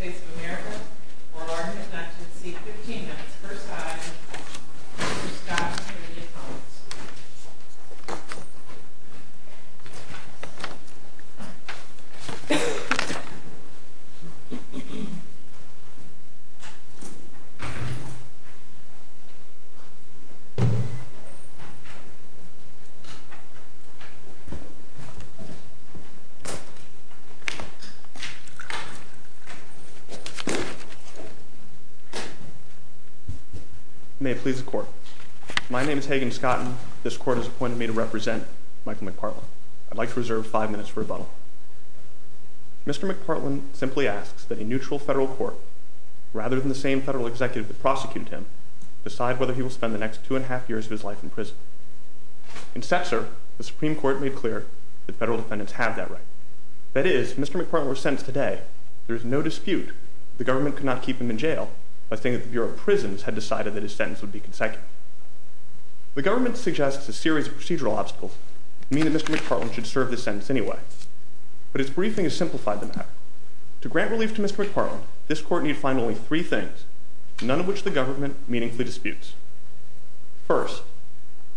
of America, Orlando, Connecticut, seat 15, that's first high, Mr. Scott, Canadian Columns. May it please the court, my name is Hagen Scott and this court has appointed me to represent Michael McPartland. I'd like to reserve five minutes for rebuttal. Mr. McPartland simply asks that a neutral federal court, rather than the same federal executive that prosecuted him, decide whether he will spend the next two and a half years of his life in prison. In Cesar, the Supreme Court made clear that federal defendants have that right. That is, if Mr. McPartland were sentenced today, there is no dispute that the government could not keep him in jail by saying that the Bureau of Prisons had decided that his sentence would be consecutive. The government suggests a series of procedural obstacles that mean that Mr. McPartland should serve this sentence anyway. But its briefing has simplified the matter. To grant relief to Mr. McPartland, this court need find only three things, none of which the government meaningfully disputes. First,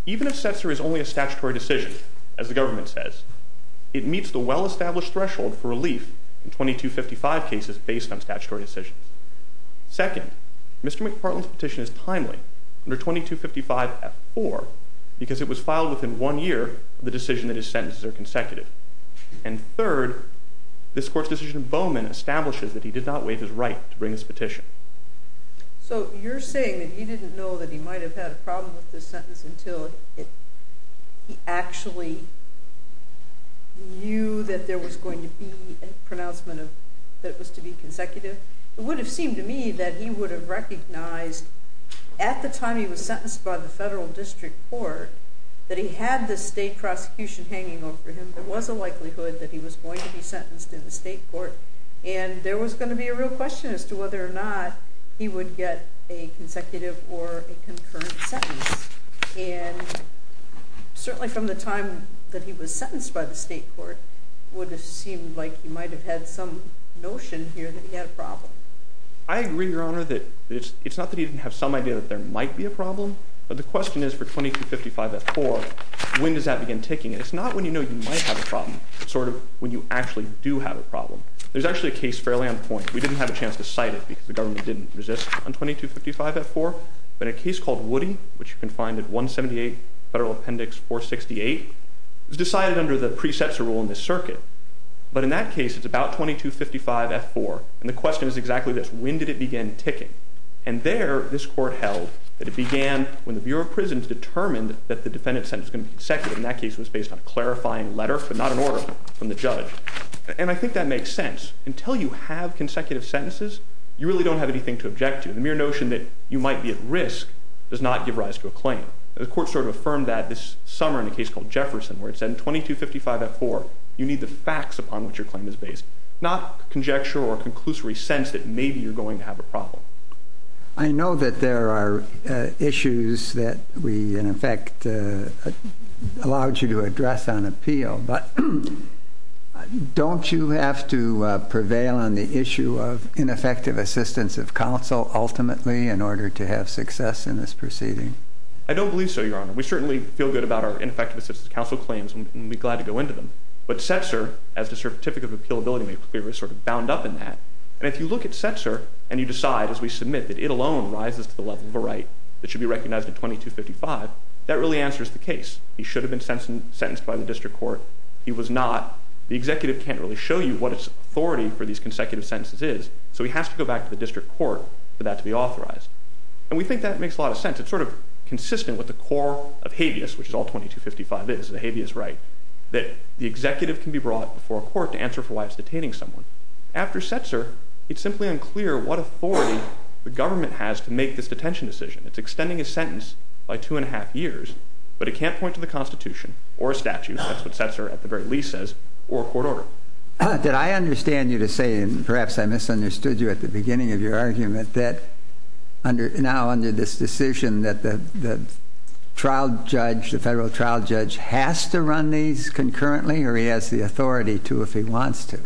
even if Cesar is only a statutory decision, as the government says, it meets the well-established threshold for relief in 2255 cases based on statutory decisions. Second, Mr. McPartland's petition is timely, under 2255F4, because it was filed within one year of the decision that his sentences are consecutive. And third, this court's decision in Bowman establishes that he did not waive his right to bring this petition. So you're saying that he didn't know that he might have had a problem with this sentence until he actually knew that there was going to be a pronouncement that it was to be consecutive? It would have seemed to me that he would have recognized at the time he was sentenced by the federal district court that he had the state prosecution hanging over him. There was a likelihood that he was going to be sentenced in the state court, and there was going to be a real question as to whether or not he would get a consecutive or a concurrent sentence. And certainly from the time that he was sentenced by the state court, it would have seemed like he might have had some notion here that he had a problem. I agree, Your Honor, that it's not that he didn't have some idea that there might be a problem, but the question is for 2255F4, when does that begin ticking? And it's not when you know you might have a problem. It's sort of when you actually do have a problem. There's actually a case fairly on point. We didn't have a chance to cite it because the government didn't resist on 2255F4, but a case called Woody, which you can find at 178 Federal Appendix 468, was decided under the precepts rule in this circuit. But in that case, it's about 2255F4, and the question is exactly this. When did it begin ticking? And there this court held that it began when the Bureau of Prisons determined that the defendant's sentence was going to be consecutive, and that case was based on a clarifying letter, but not an order from the judge. And I think that makes sense. Until you have consecutive sentences, you really don't have anything to object to. The mere notion that you might be at risk does not give rise to a claim. The court sort of affirmed that this summer in a case called Jefferson, where it said in 2255F4 you need the facts upon which your claim is based, not conjecture or conclusory sense that maybe you're going to have a problem. I know that there are issues that we, in effect, allowed you to address on appeal, but don't you have to prevail on the issue of ineffective assistance of counsel ultimately in order to have success in this proceeding? I don't believe so, Your Honor. We certainly feel good about our ineffective assistance of counsel claims, and we'd be glad to go into them. But Setzer, as the Certificate of Appeal Ability Maker, is sort of bound up in that. And if you look at Setzer and you decide, as we submit, that it alone rises to the level of a right that should be recognized in 2255, that really answers the case. He should have been sentenced by the district court. He was not. The executive can't really show you what its authority for these consecutive sentences is, so he has to go back to the district court for that to be authorized. And we think that makes a lot of sense. It's sort of consistent with the core of habeas, which is all 2255 is, the habeas right, that the executive can be brought before a court to answer for why it's detaining someone. After Setzer, it's simply unclear what authority the government has to make this detention decision. It's extending his sentence by two and a half years, but it can't point to the Constitution or a statute, that's what Setzer at the very least says, or a court order. Did I understand you to say, and perhaps I misunderstood you at the beginning of your argument, that now under this decision that the trial judge, the federal trial judge, has to run these concurrently, or he has the authority to if he wants to?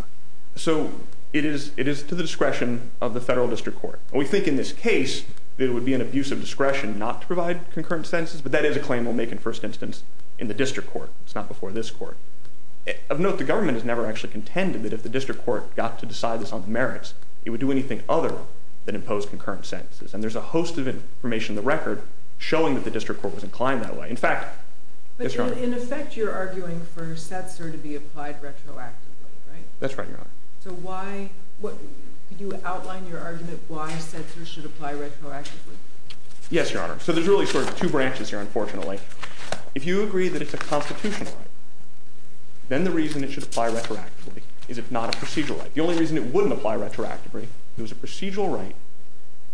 So it is to the discretion of the federal district court. We think in this case it would be an abuse of discretion not to provide concurrent sentences, but that is a claim we'll make in first instance in the district court. It's not before this court. Of note, the government has never actually contended that if the district court got to decide this on the merits, it would do anything other than impose concurrent sentences. And there's a host of information in the record showing that the district court was inclined that way. In fact, yes, Your Honor. But in effect you're arguing for Setzer to be applied retroactively, right? That's right, Your Honor. So why, could you outline your argument why Setzer should apply retroactively? Yes, Your Honor. So there's really sort of two branches here, unfortunately. If you agree that it's a constitutional right, then the reason it should apply retroactively is it's not a procedural right. The only reason it wouldn't apply retroactively is it was a procedural right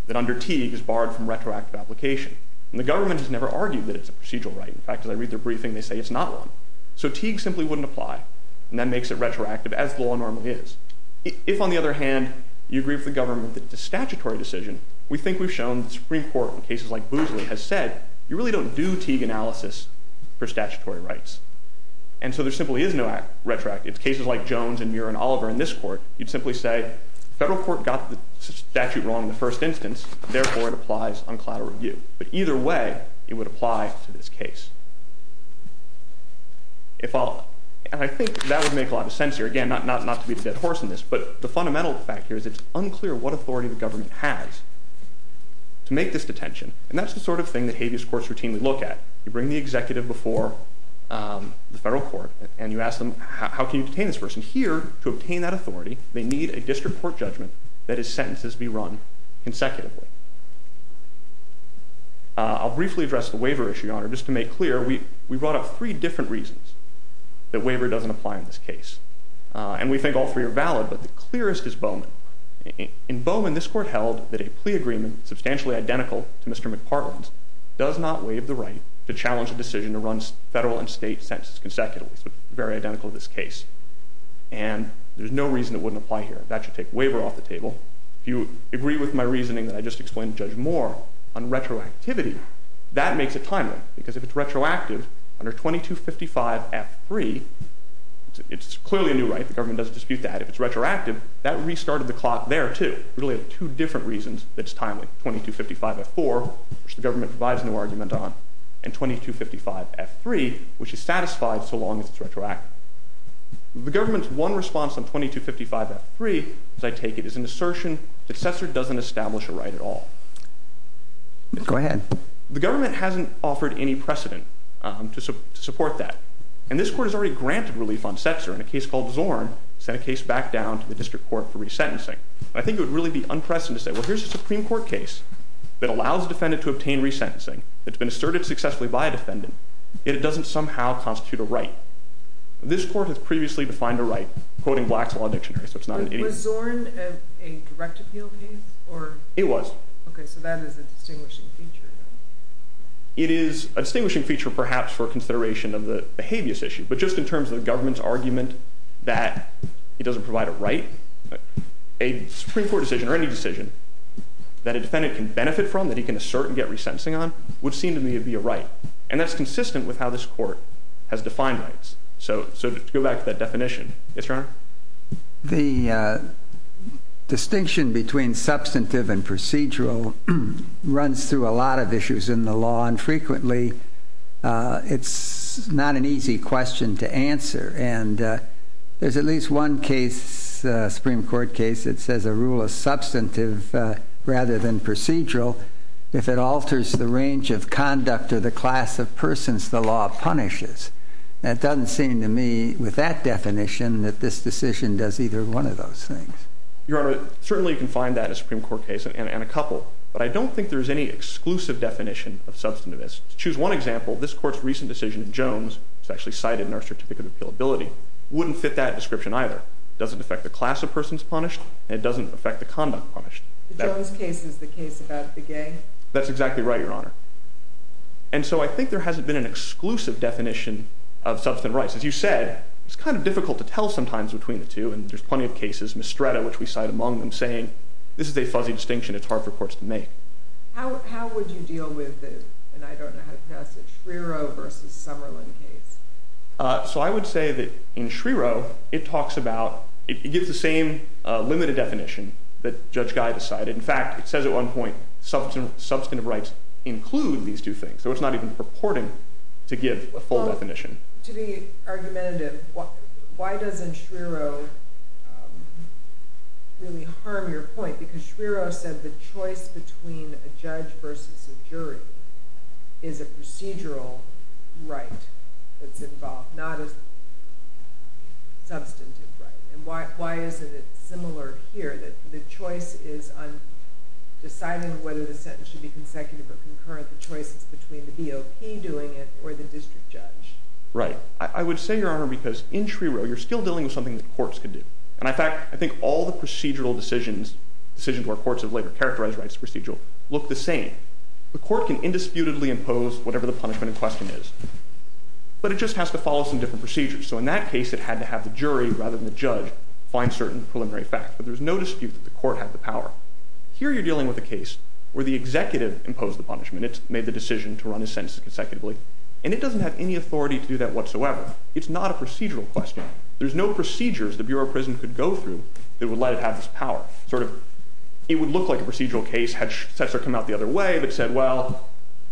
that under Teague is barred from retroactive application. And the government has never argued that it's a procedural right. In fact, as I read their briefing, they say it's not one. So Teague simply wouldn't apply, and that makes it retroactive as the law normally is. If, on the other hand, you agree with the government that it's a statutory decision, we think we've shown the Supreme Court in cases like Boozley has said, you really don't do Teague analysis for statutory rights. And so there simply is no retroactive. It's cases like Jones and Muir and Oliver in this court. You'd simply say the federal court got the statute wrong in the first instance, therefore it applies on collateral review. But either way, it would apply to this case. And I think that would make a lot of sense here. Again, not to be a dead horse in this, but the fundamental fact here is it's unclear what authority the government has to make this detention. And that's the sort of thing that habeas courts routinely look at. You bring the executive before the federal court and you ask them, how can you detain this person? Here, to obtain that authority, they need a district court judgment that his sentences be run consecutively. I'll briefly address the waiver issue, Your Honor. Just to make clear, we brought up three different reasons that waiver doesn't apply in this case. And we think all three are valid, but the clearest is Bowman. In Bowman, this court held that a plea agreement substantially identical to Mr. McPartland's does not waive the right to challenge a decision to run federal and state sentences consecutively. So it's very identical to this case. And there's no reason it wouldn't apply here. That should take waiver off the table. If you agree with my reasoning that I just explained to Judge Moore on retroactivity, that makes it timely. Because if it's retroactive, under 2255F3, it's clearly a new right. The government doesn't dispute that. If it's retroactive, that restarted the clock there, too. Really, two different reasons that it's timely. 2255F4, which the government provides no argument on, and 2255F3, which is satisfied so long as it's retroactive. The government's one response on 2255F3, as I take it, is an assertion that Setzer doesn't establish a right at all. Go ahead. The government hasn't offered any precedent to support that. And this court has already granted relief on Setzer. And a case called Zorn sent a case back down to the district court for resentencing. I think it would really be unprecedented to say, well, here's a Supreme Court case that allows a defendant to obtain resentencing, that's been asserted successfully by a defendant, yet it doesn't somehow constitute a right. This court has previously defined a right, quoting Black's Law Dictionary, so it's not an idiom. Was Zorn a direct appeal case? It was. Okay, so that is a distinguishing feature. It is a distinguishing feature, perhaps, for consideration of the behaviorist issue. But just in terms of the government's argument that it doesn't provide a right, a Supreme Court decision or any decision that a defendant can benefit from, that he can assert and get resentencing on, would seem to me to be a right. And that's consistent with how this court has defined rights. So to go back to that definition. Yes, Your Honor. The distinction between substantive and procedural runs through a lot of issues in the law, and frequently it's not an easy question to answer. And there's at least one case, Supreme Court case, that says a rule is substantive rather than procedural if it alters the range of conduct or the class of persons the law punishes. And it doesn't seem to me, with that definition, that this decision does either one of those things. Your Honor, certainly you can find that in a Supreme Court case and a couple, but I don't think there's any exclusive definition of substantive. To choose one example, this court's recent decision in Jones, which is actually cited in our Certificate of Appeal Ability, wouldn't fit that description either. It doesn't affect the class of persons punished, and it doesn't affect the conduct punished. The Jones case is the case about the gay. That's exactly right, Your Honor. And so I think there hasn't been an exclusive definition of substantive rights. As you said, it's kind of difficult to tell sometimes between the two, and there's plenty of cases. There's Mistretta, which we cite among them, saying, this is a fuzzy distinction it's hard for courts to make. How would you deal with the, and I don't know how to pass it, Schriero versus Summerlin case? So I would say that in Schriero, it talks about, it gives the same limited definition that Judge Guy decided. In fact, it says at one point, substantive rights include these two things, so it's not even purporting to give a full definition. To be argumentative, why doesn't Schriero really harm your point? Because Schriero said the choice between a judge versus a jury is a procedural right that's involved, not a substantive right. And why isn't it similar here that the choice is on deciding whether the sentence should be consecutive or concurrent, but the choice is between the BOP doing it or the district judge? Right. I would say, Your Honor, because in Schriero, you're still dealing with something that courts can do. And in fact, I think all the procedural decisions, decisions where courts have later characterized rights as procedural, look the same. The court can indisputably impose whatever the punishment in question is, but it just has to follow some different procedures. So in that case, it had to have the jury rather than the judge find certain preliminary facts, but there's no dispute that the court had the power. Here you're dealing with a case where the executive imposed the punishment. It made the decision to run a sentence consecutively. And it doesn't have any authority to do that whatsoever. It's not a procedural question. There's no procedures the Bureau of Prisons could go through that would let it have this power. It would look like a procedural case had Sessler come out the other way but said, well,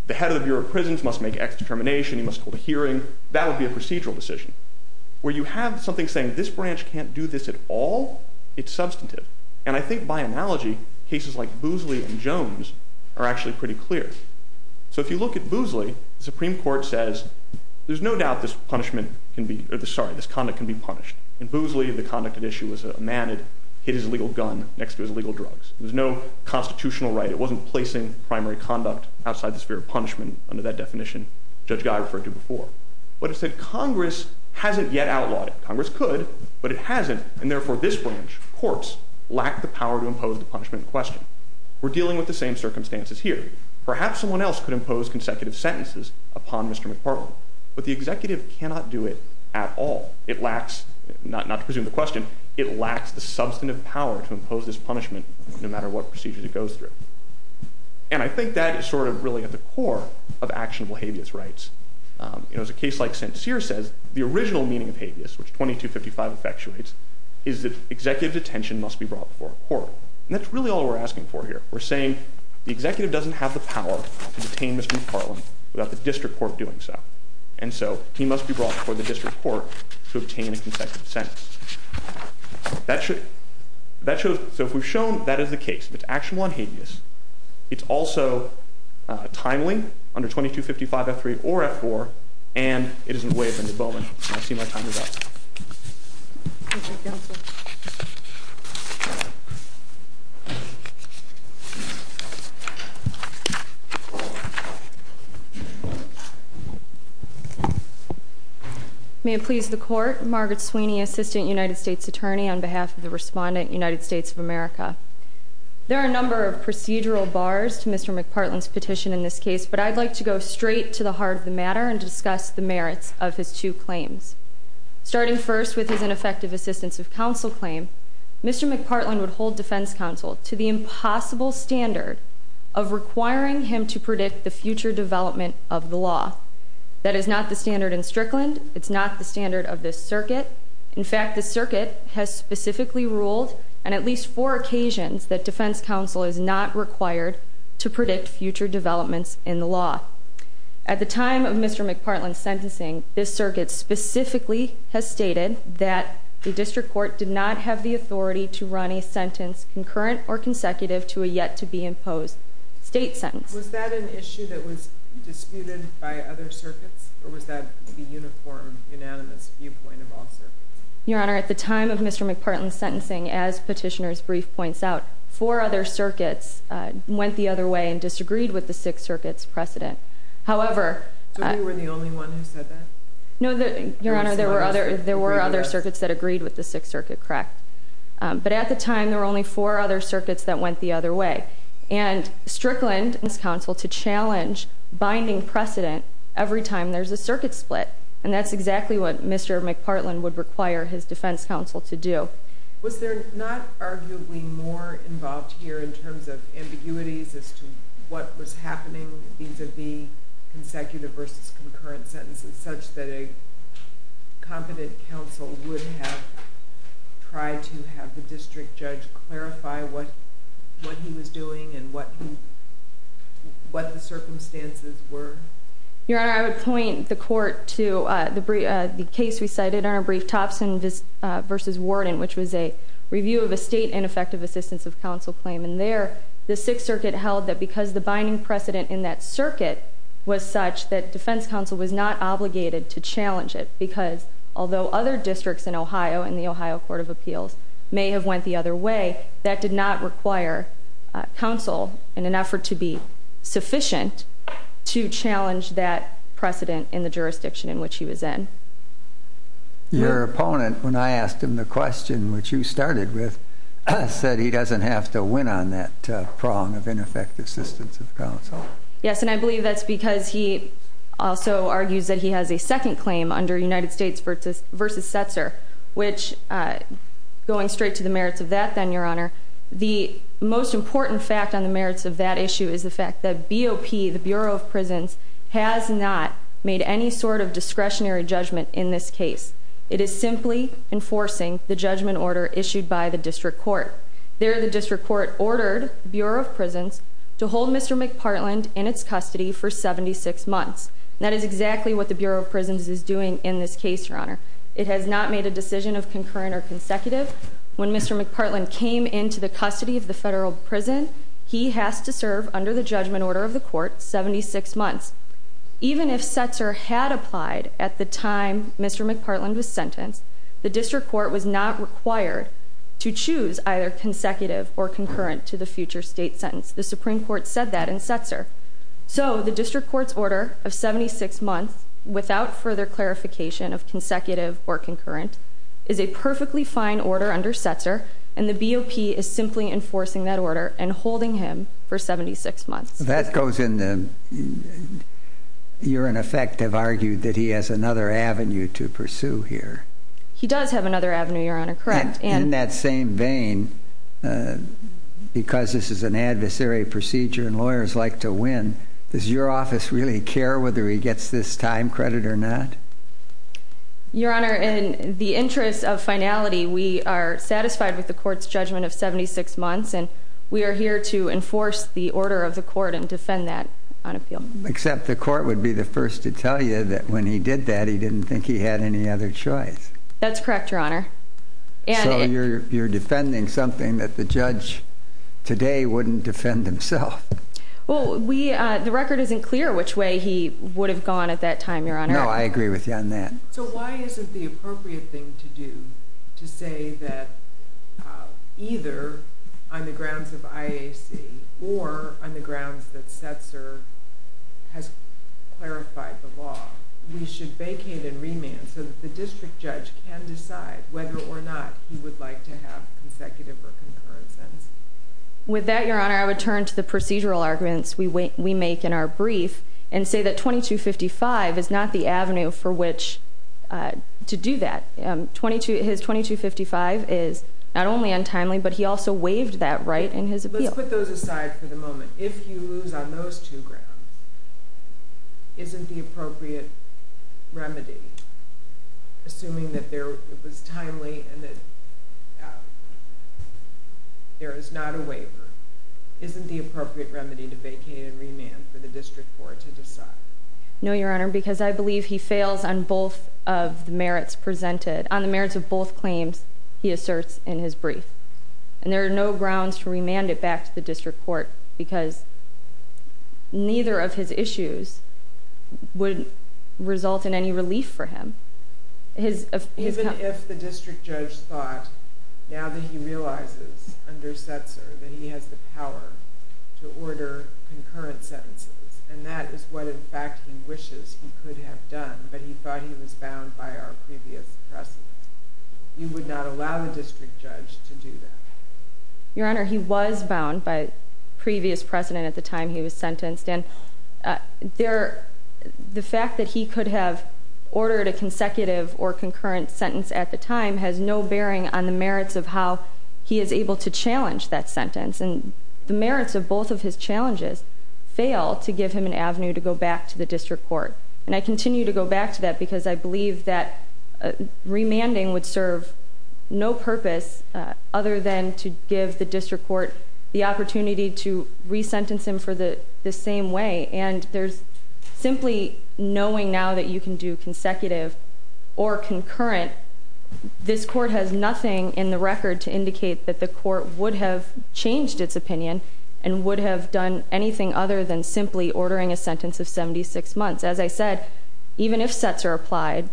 the head of the Bureau of Prisons must make X determination. He must hold a hearing. That would be a procedural decision. Where you have something saying this branch can't do this at all, it's substantive. And I think by analogy, cases like Boozley and Jones are actually pretty clear. So if you look at Boozley, the Supreme Court says, there's no doubt this conduct can be punished. In Boozley, the conduct at issue was a man had hit his legal gun next to his legal drugs. There was no constitutional right. It wasn't placing primary conduct outside the sphere of punishment under that definition Judge Guy referred to before. But it said Congress hasn't yet outlawed it. Congress could, but it hasn't, and therefore this branch, courts, lack the power to impose the punishment in question. We're dealing with the same circumstances here. Perhaps someone else could impose consecutive sentences upon Mr. McPartland, but the executive cannot do it at all. It lacks, not to presume the question, it lacks the substantive power to impose this punishment no matter what procedures it goes through. And I think that is sort of really at the core of actionable habeas rights. As a case like St. Cyr says, the original meaning of habeas, which 2255 effectuates, is that executive detention must be brought before a court. And that's really all we're asking for here. We're saying the executive doesn't have the power to detain Mr. McPartland without the district court doing so. And so he must be brought before the district court to obtain a consecutive sentence. So if we've shown that is the case, if it's actionable and habeas, it's also timely under 2255 F3 or F4, and it isn't way up into Bowman. I'll see my time is up. May it please the court, Margaret Sweeney, Assistant United States Attorney, on behalf of the respondent, United States of America. There are a number of procedural bars to Mr. McPartland's petition in this case, and I'm here to discuss the merits of his two claims. Starting first with his ineffective assistance of counsel claim, Mr. McPartland would hold defense counsel to the impossible standard of requiring him to predict the future development of the law. That is not the standard in Strickland. It's not the standard of this circuit. In fact, the circuit has specifically ruled, on at least four occasions, that defense counsel is not required to predict future developments in the law. At the time of Mr. McPartland's sentencing, this circuit specifically has stated that the district court did not have the authority to run a sentence concurrent or consecutive to a yet-to-be-imposed state sentence. Was that an issue that was disputed by other circuits, or was that the uniform, unanimous viewpoint of all circuits? Your Honor, at the time of Mr. McPartland's sentencing, as Petitioner's brief points out, four other circuits went the other way and disagreed with the Sixth Circuit's precedent. However... So you were the only one who said that? No, Your Honor, there were other circuits that agreed with the Sixth Circuit, correct. But at the time, there were only four other circuits that went the other way. And Strickland asked counsel to challenge binding precedent every time there's a circuit split, and that's exactly what Mr. McPartland would require his defense counsel to do. Was there not arguably more involved here in terms of ambiguities as to what was happening vis-à-vis consecutive versus concurrent sentences, such that a competent counsel would have tried to have the district judge clarify what he was doing and what the circumstances were? Your Honor, I would point the court to the case we cited, in our brief, Thompson v. Warden, which was a review of a state ineffective assistance of counsel claim. And there, the Sixth Circuit held that because the binding precedent in that circuit was such that defense counsel was not obligated to challenge it because although other districts in Ohio, in the Ohio Court of Appeals, may have went the other way, that did not require counsel, in an effort to be sufficient, to challenge that precedent in the jurisdiction in which he was in. Your opponent, when I asked him the question which you started with, said he doesn't have to win on that prong of ineffective assistance of counsel. Yes, and I believe that's because he also argues that he has a second claim under United States v. Setzer, which, going straight to the merits of that then, Your Honor, the most important fact on the merits of that issue is the fact that BOP, the Bureau of Prisons, has not made any sort of discretionary judgment in this case. It is simply enforcing the judgment order issued by the district court. There, the district court ordered Bureau of Prisons to hold Mr. McPartland in its custody for 76 months. That is exactly what the Bureau of Prisons is doing in this case, Your Honor. It has not made a decision of concurrent or consecutive. When Mr. McPartland came into the custody of the federal prison, he has to serve, under the judgment order of the court, 76 months. Even if Setzer had applied at the time Mr. McPartland was sentenced, the district court was not required to choose either consecutive or concurrent to the future state sentence. The Supreme Court said that in Setzer. So, the district court's order of 76 months, without further clarification of consecutive or concurrent, is a perfectly fine order under Setzer, and the BOP is simply enforcing that order and holding him for 76 months. That goes in the... You, in effect, have argued that he has another avenue to pursue here. He does have another avenue, Your Honor, correct. In that same vein, because this is an adversary procedure and lawyers like to win, does your office really care whether he gets this time credit or not? Your Honor, in the interest of finality, we are satisfied with the court's judgment of 76 months, and we are here to enforce the order of the court and defend that on appeal. Except the court would be the first to tell you that when he did that, he didn't think he had any other choice. That's correct, Your Honor. So, you're defending something that the judge today wouldn't defend himself. Well, the record isn't clear which way he would have gone at that time, Your Honor. No, I agree with you on that. So, why isn't the appropriate thing to do to say that either on the grounds of IAC or on the grounds that Setzer has clarified the law, we should vacate and remand so that the district judge can decide whether or not he would like to have consecutive or concurrent sentences? With that, Your Honor, I would turn to the procedural arguments we make in our brief and say that 2255 is not the avenue for which to do that. His 2255 is not only untimely, but he also waived that right in his appeal. Let's put those aside for the moment. If you lose on those two grounds, isn't the appropriate remedy, assuming that it was timely and that there is not a waiver, isn't the appropriate remedy to vacate and remand for the district court to decide? No, Your Honor, because I believe he fails on both of the merits presented. On the merits of both claims, he asserts in his brief. And there are no grounds to remand it back to the district court because neither of his issues would result in any relief for him. Even if the district judge thought, now that he realizes under Setzer that he has the power to order concurrent sentences, and that is what, in fact, he wishes he could have done, but he thought he was bound by our previous precedent, he would not allow the district judge to do that. Your Honor, he was bound by previous precedent at the time he was sentenced, and the fact that he could have ordered a consecutive or concurrent sentence at the time has no bearing on the merits of how he is able to challenge that sentence. And the merits of both of his challenges fail to give him an avenue to go back to the district court. And I continue to go back to that because I believe that remanding would serve no purpose other than to give the district court the opportunity to resentence him for the same way. And simply knowing now that you can do consecutive or concurrent, this court has nothing in the record to indicate that the court would have changed its opinion and would have done anything other than simply ordering a sentence of 76 months. As I said, even if Setzer applied,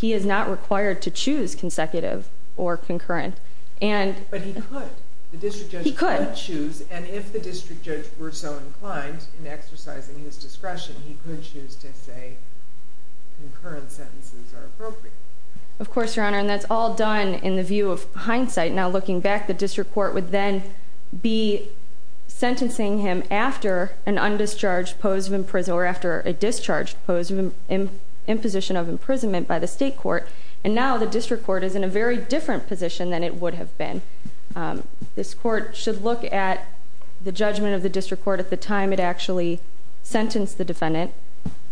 he is not required to choose consecutive or concurrent. But he could. The district judge could choose. And if the district judge were so inclined in exercising his discretion, he could choose to say concurrent sentences are appropriate. Of course, Your Honor, and that's all done in the view of hindsight. Now looking back, the district court would then be sentencing him after an undischarged pose of imprisonment or after a discharged pose of imposition of imprisonment by the state court. And now the district court is in a very different position than it would have been. This court should look at the judgment of the district court at the time it actually sentenced the defendant.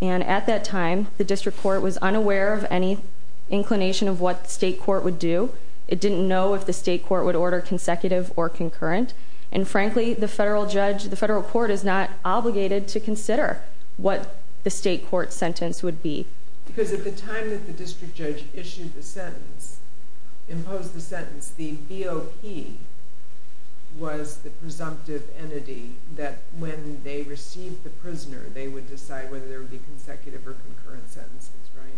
And at that time, the district court was unaware of any inclination of what the state court would do. It didn't know if the state court would order consecutive or concurrent. And frankly, the federal court is not obligated to consider what the state court's sentence would be. Because at the time that the district judge issued the sentence, imposed the sentence, the BOP was the presumptive entity that when they received the prisoner, they would decide whether there would be consecutive or concurrent sentences, right?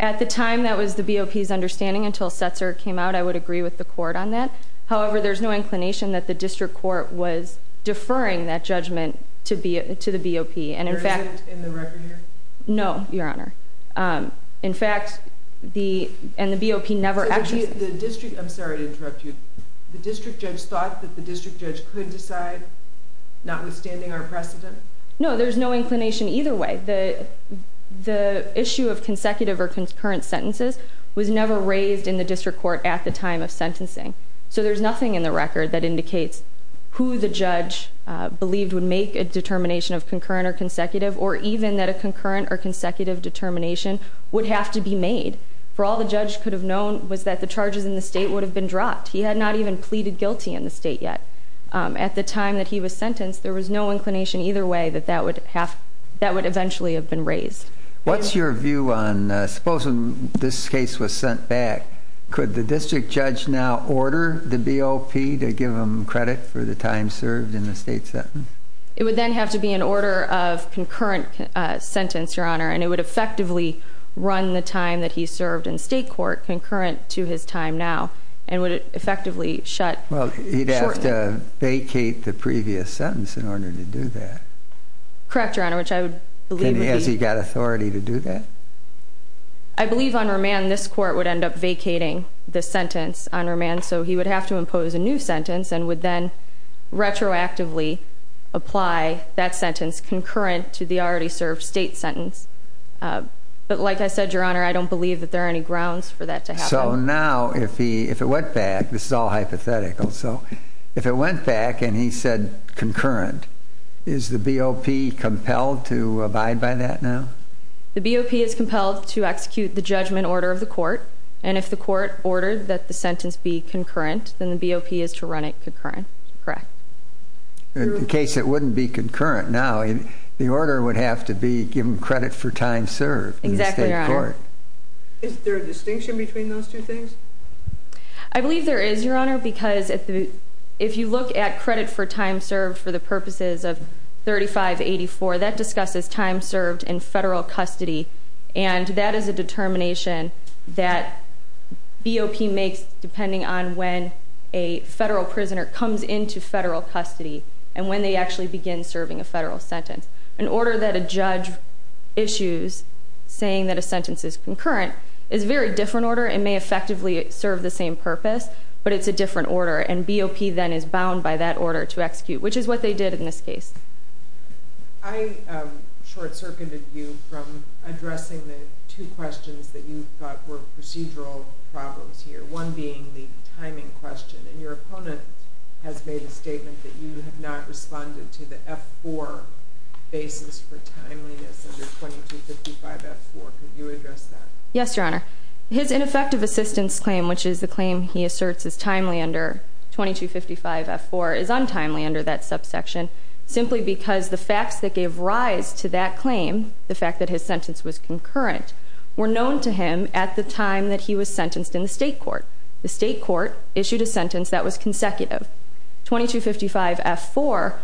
At the time, that was the BOP's understanding until Setzer came out. I would agree with the court on that. However, there's no inclination that the district court was deferring that judgment to the BOP. There isn't in the record here? No, Your Honor. In fact, the BOP never actually- I'm sorry to interrupt you. The district judge thought that the district judge could decide notwithstanding our precedent? No, there's no inclination either way. The issue of consecutive or concurrent sentences was never raised in the district court at the time of sentencing. So there's nothing in the record that indicates who the judge believed would make a determination of concurrent or consecutive or even that a concurrent or consecutive determination would have to be made. For all the judge could have known was that the charges in the state would have been dropped. He had not even pleaded guilty in the state yet. At the time that he was sentenced, there was no inclination either way that that would eventually have been raised. What's your view on, suppose this case was sent back, could the district judge now order the BOP to give them credit for the time served in the state sentence? It would then have to be an order of concurrent sentence, Your Honor, and it would effectively run the time that he served in state court concurrent to his time now and would it effectively shut- Well, he'd have to vacate the previous sentence in order to do that. Correct, Your Honor, which I would believe would be- Has he got authority to do that? I believe on remand this court would end up vacating the sentence on remand, so he would have to impose a new sentence and would then retroactively apply that sentence concurrent to the already served state sentence. But like I said, Your Honor, I don't believe that there are any grounds for that to happen. So now if it went back, this is all hypothetical, so if it went back and he said concurrent, is the BOP compelled to abide by that now? The BOP is compelled to execute the judgment order of the court, and if the court ordered that the sentence be concurrent, then the BOP is to run it concurrent. Correct. In case it wouldn't be concurrent now, the order would have to be given credit for time served in state court. Exactly, Your Honor. Is there a distinction between those two things? I believe there is, Your Honor, because if you look at credit for time served for the purposes of 3584, that discusses time served in federal custody, and that is a determination that BOP makes depending on when a federal prisoner comes into federal custody and when they actually begin serving a federal sentence. An order that a judge issues saying that a sentence is concurrent is a very different order and may effectively serve the same purpose, but it's a different order, and BOP then is bound by that order to execute, which is what they did in this case. I short-circuited you from addressing the two questions that you thought were procedural problems here, one being the timing question, and your opponent has made a statement that you have not responded to the F-4 basis for timeliness under 2255 F-4. Could you address that? Yes, Your Honor. His ineffective assistance claim, which is the claim he asserts is timely under 2255 F-4, is untimely under that subsection simply because the facts that gave rise to that claim, the fact that his sentence was concurrent, were known to him at the time that he was sentenced in the state court. The state court issued a sentence that was consecutive. 2255 F-4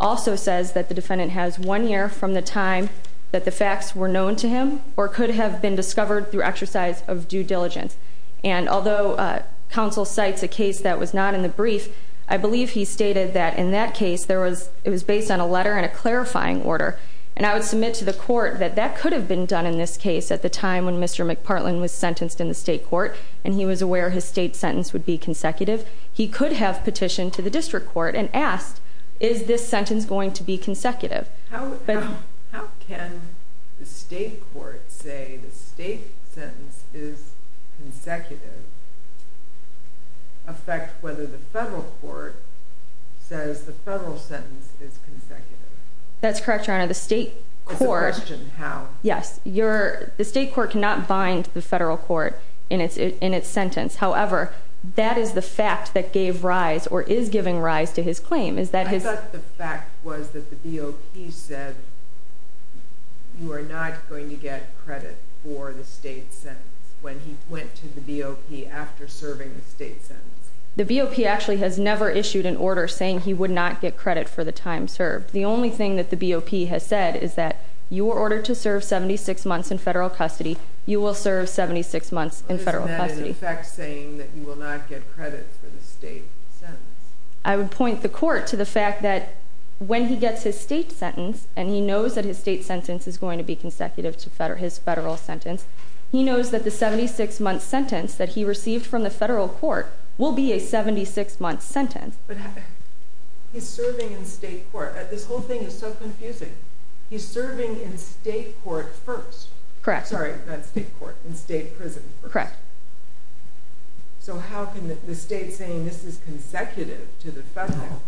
also says that the defendant has one year from the time that the facts were known to him or could have been discovered through exercise of due diligence, and although counsel cites a case that was not in the brief, I believe he stated that in that case it was based on a letter and a clarifying order, and I would submit to the court that that could have been done in this case at the time when Mr. McPartland was sentenced in the state court and he was aware his state sentence would be consecutive. He could have petitioned to the district court and asked, is this sentence going to be consecutive? How can the state court say the state sentence is consecutive affect whether the federal court says the federal sentence is consecutive? That's correct, Your Honor. The state court cannot bind the federal court in its sentence. However, that is the fact that gave rise or is giving rise to his claim. I thought the fact was that the BOP said you are not going to get credit for the state sentence when he went to the BOP after serving the state sentence. The BOP actually has never issued an order saying he would not get credit for the time served. The only thing that the BOP has said is that you were ordered to serve 76 months in federal custody. You will serve 76 months in federal custody. Isn't that in effect saying that you will not get credit for the state sentence? I would point the court to the fact that when he gets his state sentence and he knows that his state sentence is going to be consecutive to his federal sentence, he knows that the 76-month sentence that he received from the federal court will be a 76-month sentence. But he's serving in state court. This whole thing is so confusing. He's serving in state court first. Correct. Sorry, not state court. In state prison first. Correct. So how can the state saying this is consecutive to the federal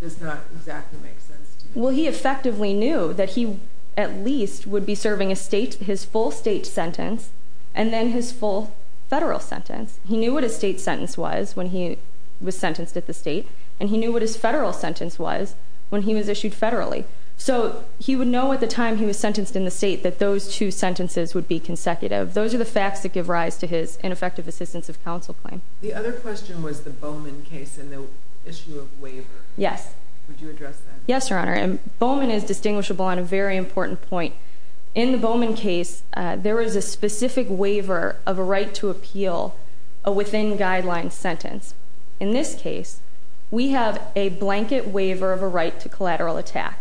does not exactly make sense to me? Well, he effectively knew that he at least would be serving his full state sentence and then his full federal sentence. He knew what his state sentence was when he was sentenced at the state, and he knew what his federal sentence was when he was issued federally. So he would know at the time he was sentenced in the state that those two sentences would be consecutive. Those are the facts that give rise to his ineffective assistance of counsel claim. The other question was the Bowman case and the issue of waiver. Yes. Would you address that? Yes, Your Honor. Bowman is distinguishable on a very important point. In the Bowman case, there is a specific waiver of a right to appeal a within-guidelines sentence. In this case, we have a blanket waiver of a right to collateral attack,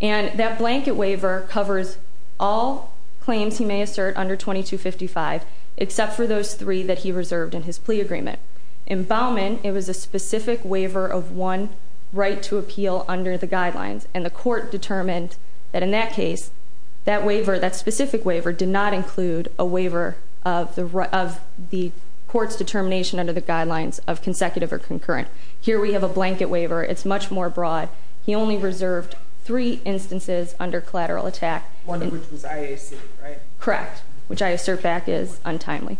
and that blanket waiver covers all claims he may assert under 2255, except for those three that he reserved in his plea agreement. In Bowman, it was a specific waiver of one right to appeal under the guidelines, and the court determined that in that case, that waiver, that specific waiver, did not include a waiver of the court's determination under the guidelines of consecutive or concurrent. Here we have a blanket waiver. It's much more broad. He only reserved three instances under collateral attack. One of which was IAC, right? Correct, which I assert back is untimely.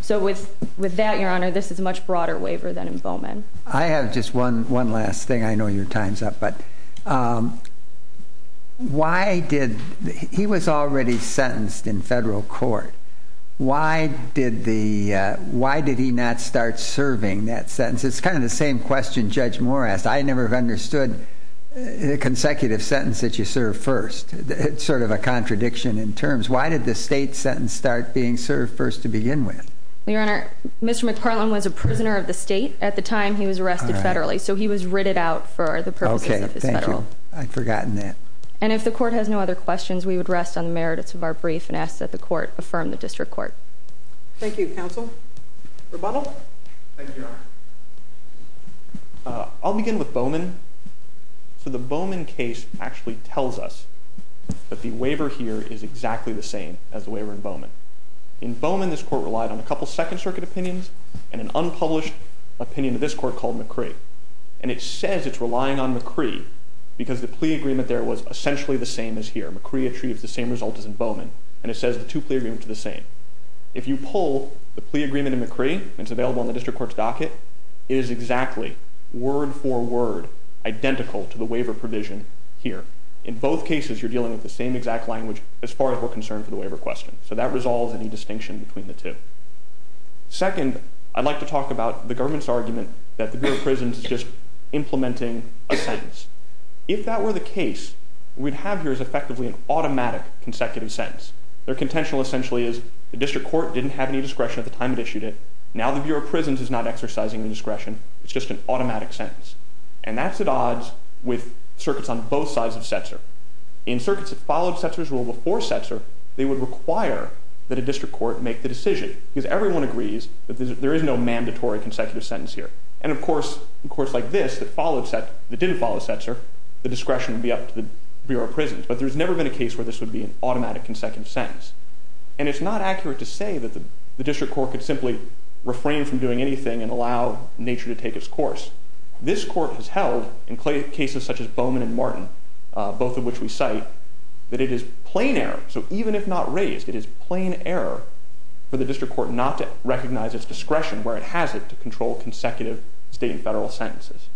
So with that, Your Honor, this is a much broader waiver than in Bowman. I have just one last thing. I know your time's up, but why did—he was already sentenced in federal court. Why did he not start serving that sentence? It's kind of the same question Judge Moore asked. I never understood a consecutive sentence that you serve first. It's sort of a contradiction in terms. Why did the state sentence start being served first to begin with? Your Honor, Mr. McPartland was a prisoner of the state. At the time, he was arrested federally, so he was ridded out for the purposes of his federal. Okay, thank you. I'd forgotten that. And if the court has no other questions, we would rest on the merits of our brief and ask that the court affirm the district court. Thank you, counsel. Rebuttal? Thank you, Your Honor. I'll begin with Bowman. So the Bowman case actually tells us that the waiver here is exactly the same as the waiver in Bowman. In Bowman, this court relied on a couple Second Circuit opinions and an unpublished opinion of this court called McCree. And it says it's relying on McCree because the plea agreement there was essentially the same as here. McCree achieves the same result as in Bowman, and it says the two plea agreements are the same. If you pull the plea agreement in McCree, it's available in the district court's docket, it is exactly, word for word, identical to the waiver provision here. In both cases, you're dealing with the same exact language as far as we're concerned for the waiver question. So that resolves any distinction between the two. Second, I'd like to talk about the government's argument that the Bureau of Prisons is just implementing a sentence. If that were the case, what we'd have here is effectively an automatic consecutive sentence. Their contention essentially is the district court didn't have any discretion at the time it issued it, now the Bureau of Prisons is not exercising the discretion, it's just an automatic sentence. And that's at odds with circuits on both sides of Setzer. In circuits that followed Setzer's rule before Setzer, they would require that a district court make the decision because everyone agrees that there is no mandatory consecutive sentence here. And of course, in courts like this that didn't follow Setzer, the discretion would be up to the Bureau of Prisons. But there's never been a case where this would be an automatic consecutive sentence. And it's not accurate to say that the district court could simply refrain from doing anything and allow nature to take its course. This court has held, in cases such as Bowman and Martin, both of which we cite, that it is plain error, so even if not raised, it is plain error for the district court not to recognize its discretion, where it has it, to control consecutive state and federal sentences.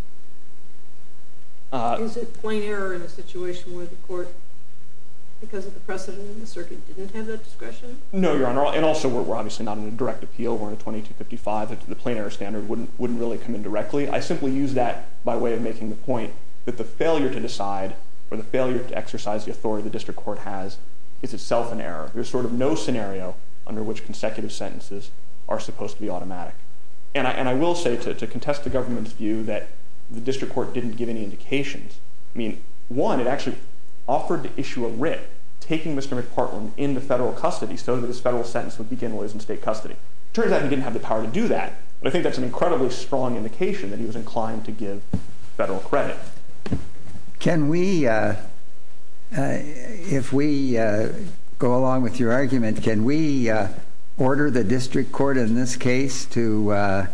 Is it plain error in a situation where the court, because of the precedent in the circuit, didn't have that discretion? No, Your Honor, and also we're obviously not in a direct appeal, we're in a 2255, the plain error standard wouldn't really come in directly. I simply use that by way of making the point that the failure to decide, or the failure to exercise the authority the district court has, is itself an error. There's sort of no scenario under which consecutive sentences are supposed to be automatic. And I will say, to contest the government's view that the district court didn't give any indications, I mean, one, it actually offered to issue a writ taking Mr. McPartland into federal custody so that his federal sentence would begin while he was in state custody. It turns out he didn't have the power to do that, but I think that's an incredibly strong indication that he was inclined to give federal credit. Can we, if we go along with your argument, can we order the district court in this case to,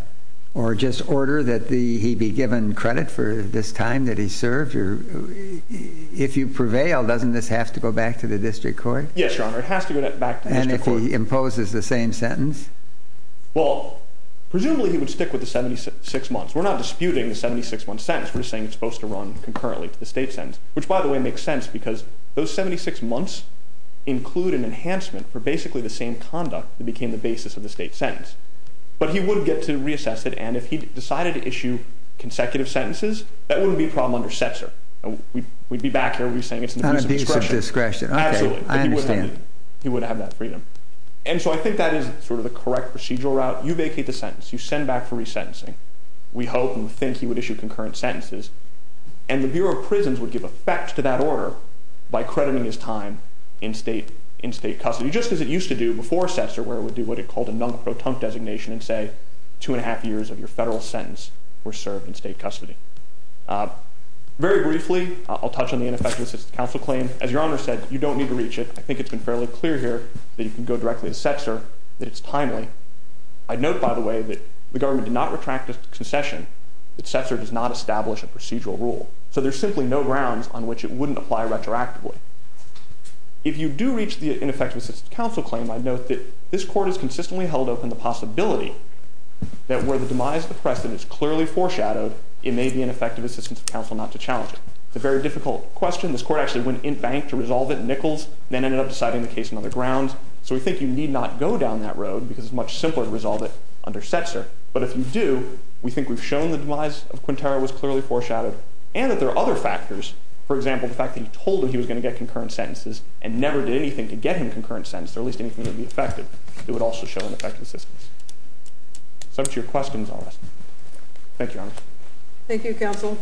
or just order that he be given credit for this time that he served? If you prevail, doesn't this have to go back to the district court? Yes, Your Honor, it has to go back to the district court. And if he imposes the same sentence? Well, presumably he would stick with the 76 months. We're not disputing the 76-month sentence. We're just saying it's supposed to run concurrently to the state sentence, which, by the way, makes sense because those 76 months include an enhancement for basically the same conduct that became the basis of the state sentence. But he would get to reassess it, and if he decided to issue consecutive sentences, that wouldn't be a problem under CPSR. We'd be back here, we'd be saying it's an abuse of discretion. Abuse of discretion, okay, I understand. Absolutely, but he wouldn't have that freedom. And so I think that is sort of the correct procedural route. You vacate the sentence, you send back for resentencing. We hope and think he would issue concurrent sentences, and the Bureau of Prisons would give effect to that order by crediting his time in state custody, just as it used to do before CPSR where it would do what it called a non-proton designation and say 2 1⁄2 years of your federal sentence were served in state custody. Very briefly, I'll touch on the ineffective assistant counsel claim. As Your Honor said, you don't need to reach it. I think it's been fairly clear here that you can go directly to CPSR, that it's timely. I'd note, by the way, that the government did not retract a concession that CPSR does not establish a procedural rule. So there's simply no grounds on which it wouldn't apply retroactively. If you do reach the ineffective assistant counsel claim, I'd note that this court has consistently held open the possibility that where the demise of the precedent is clearly foreshadowed, it may be ineffective assistance of counsel not to challenge it. It's a very difficult question. This court actually went in-bank to resolve it in Nichols, then ended up deciding the case on other grounds. So we think you need not go down that road because it's much simpler to resolve it under CPSR. But if you do, we think we've shown the demise of Quintero was clearly foreshadowed and that there are other factors. For example, the fact that he told them he was going to get concurrent sentences and never did anything to get him concurrent sentences, or at least anything that would be effective, it would also show an effective assistance. So that's your questions on this. Thank you, Your Honor. Thank you, Counsel.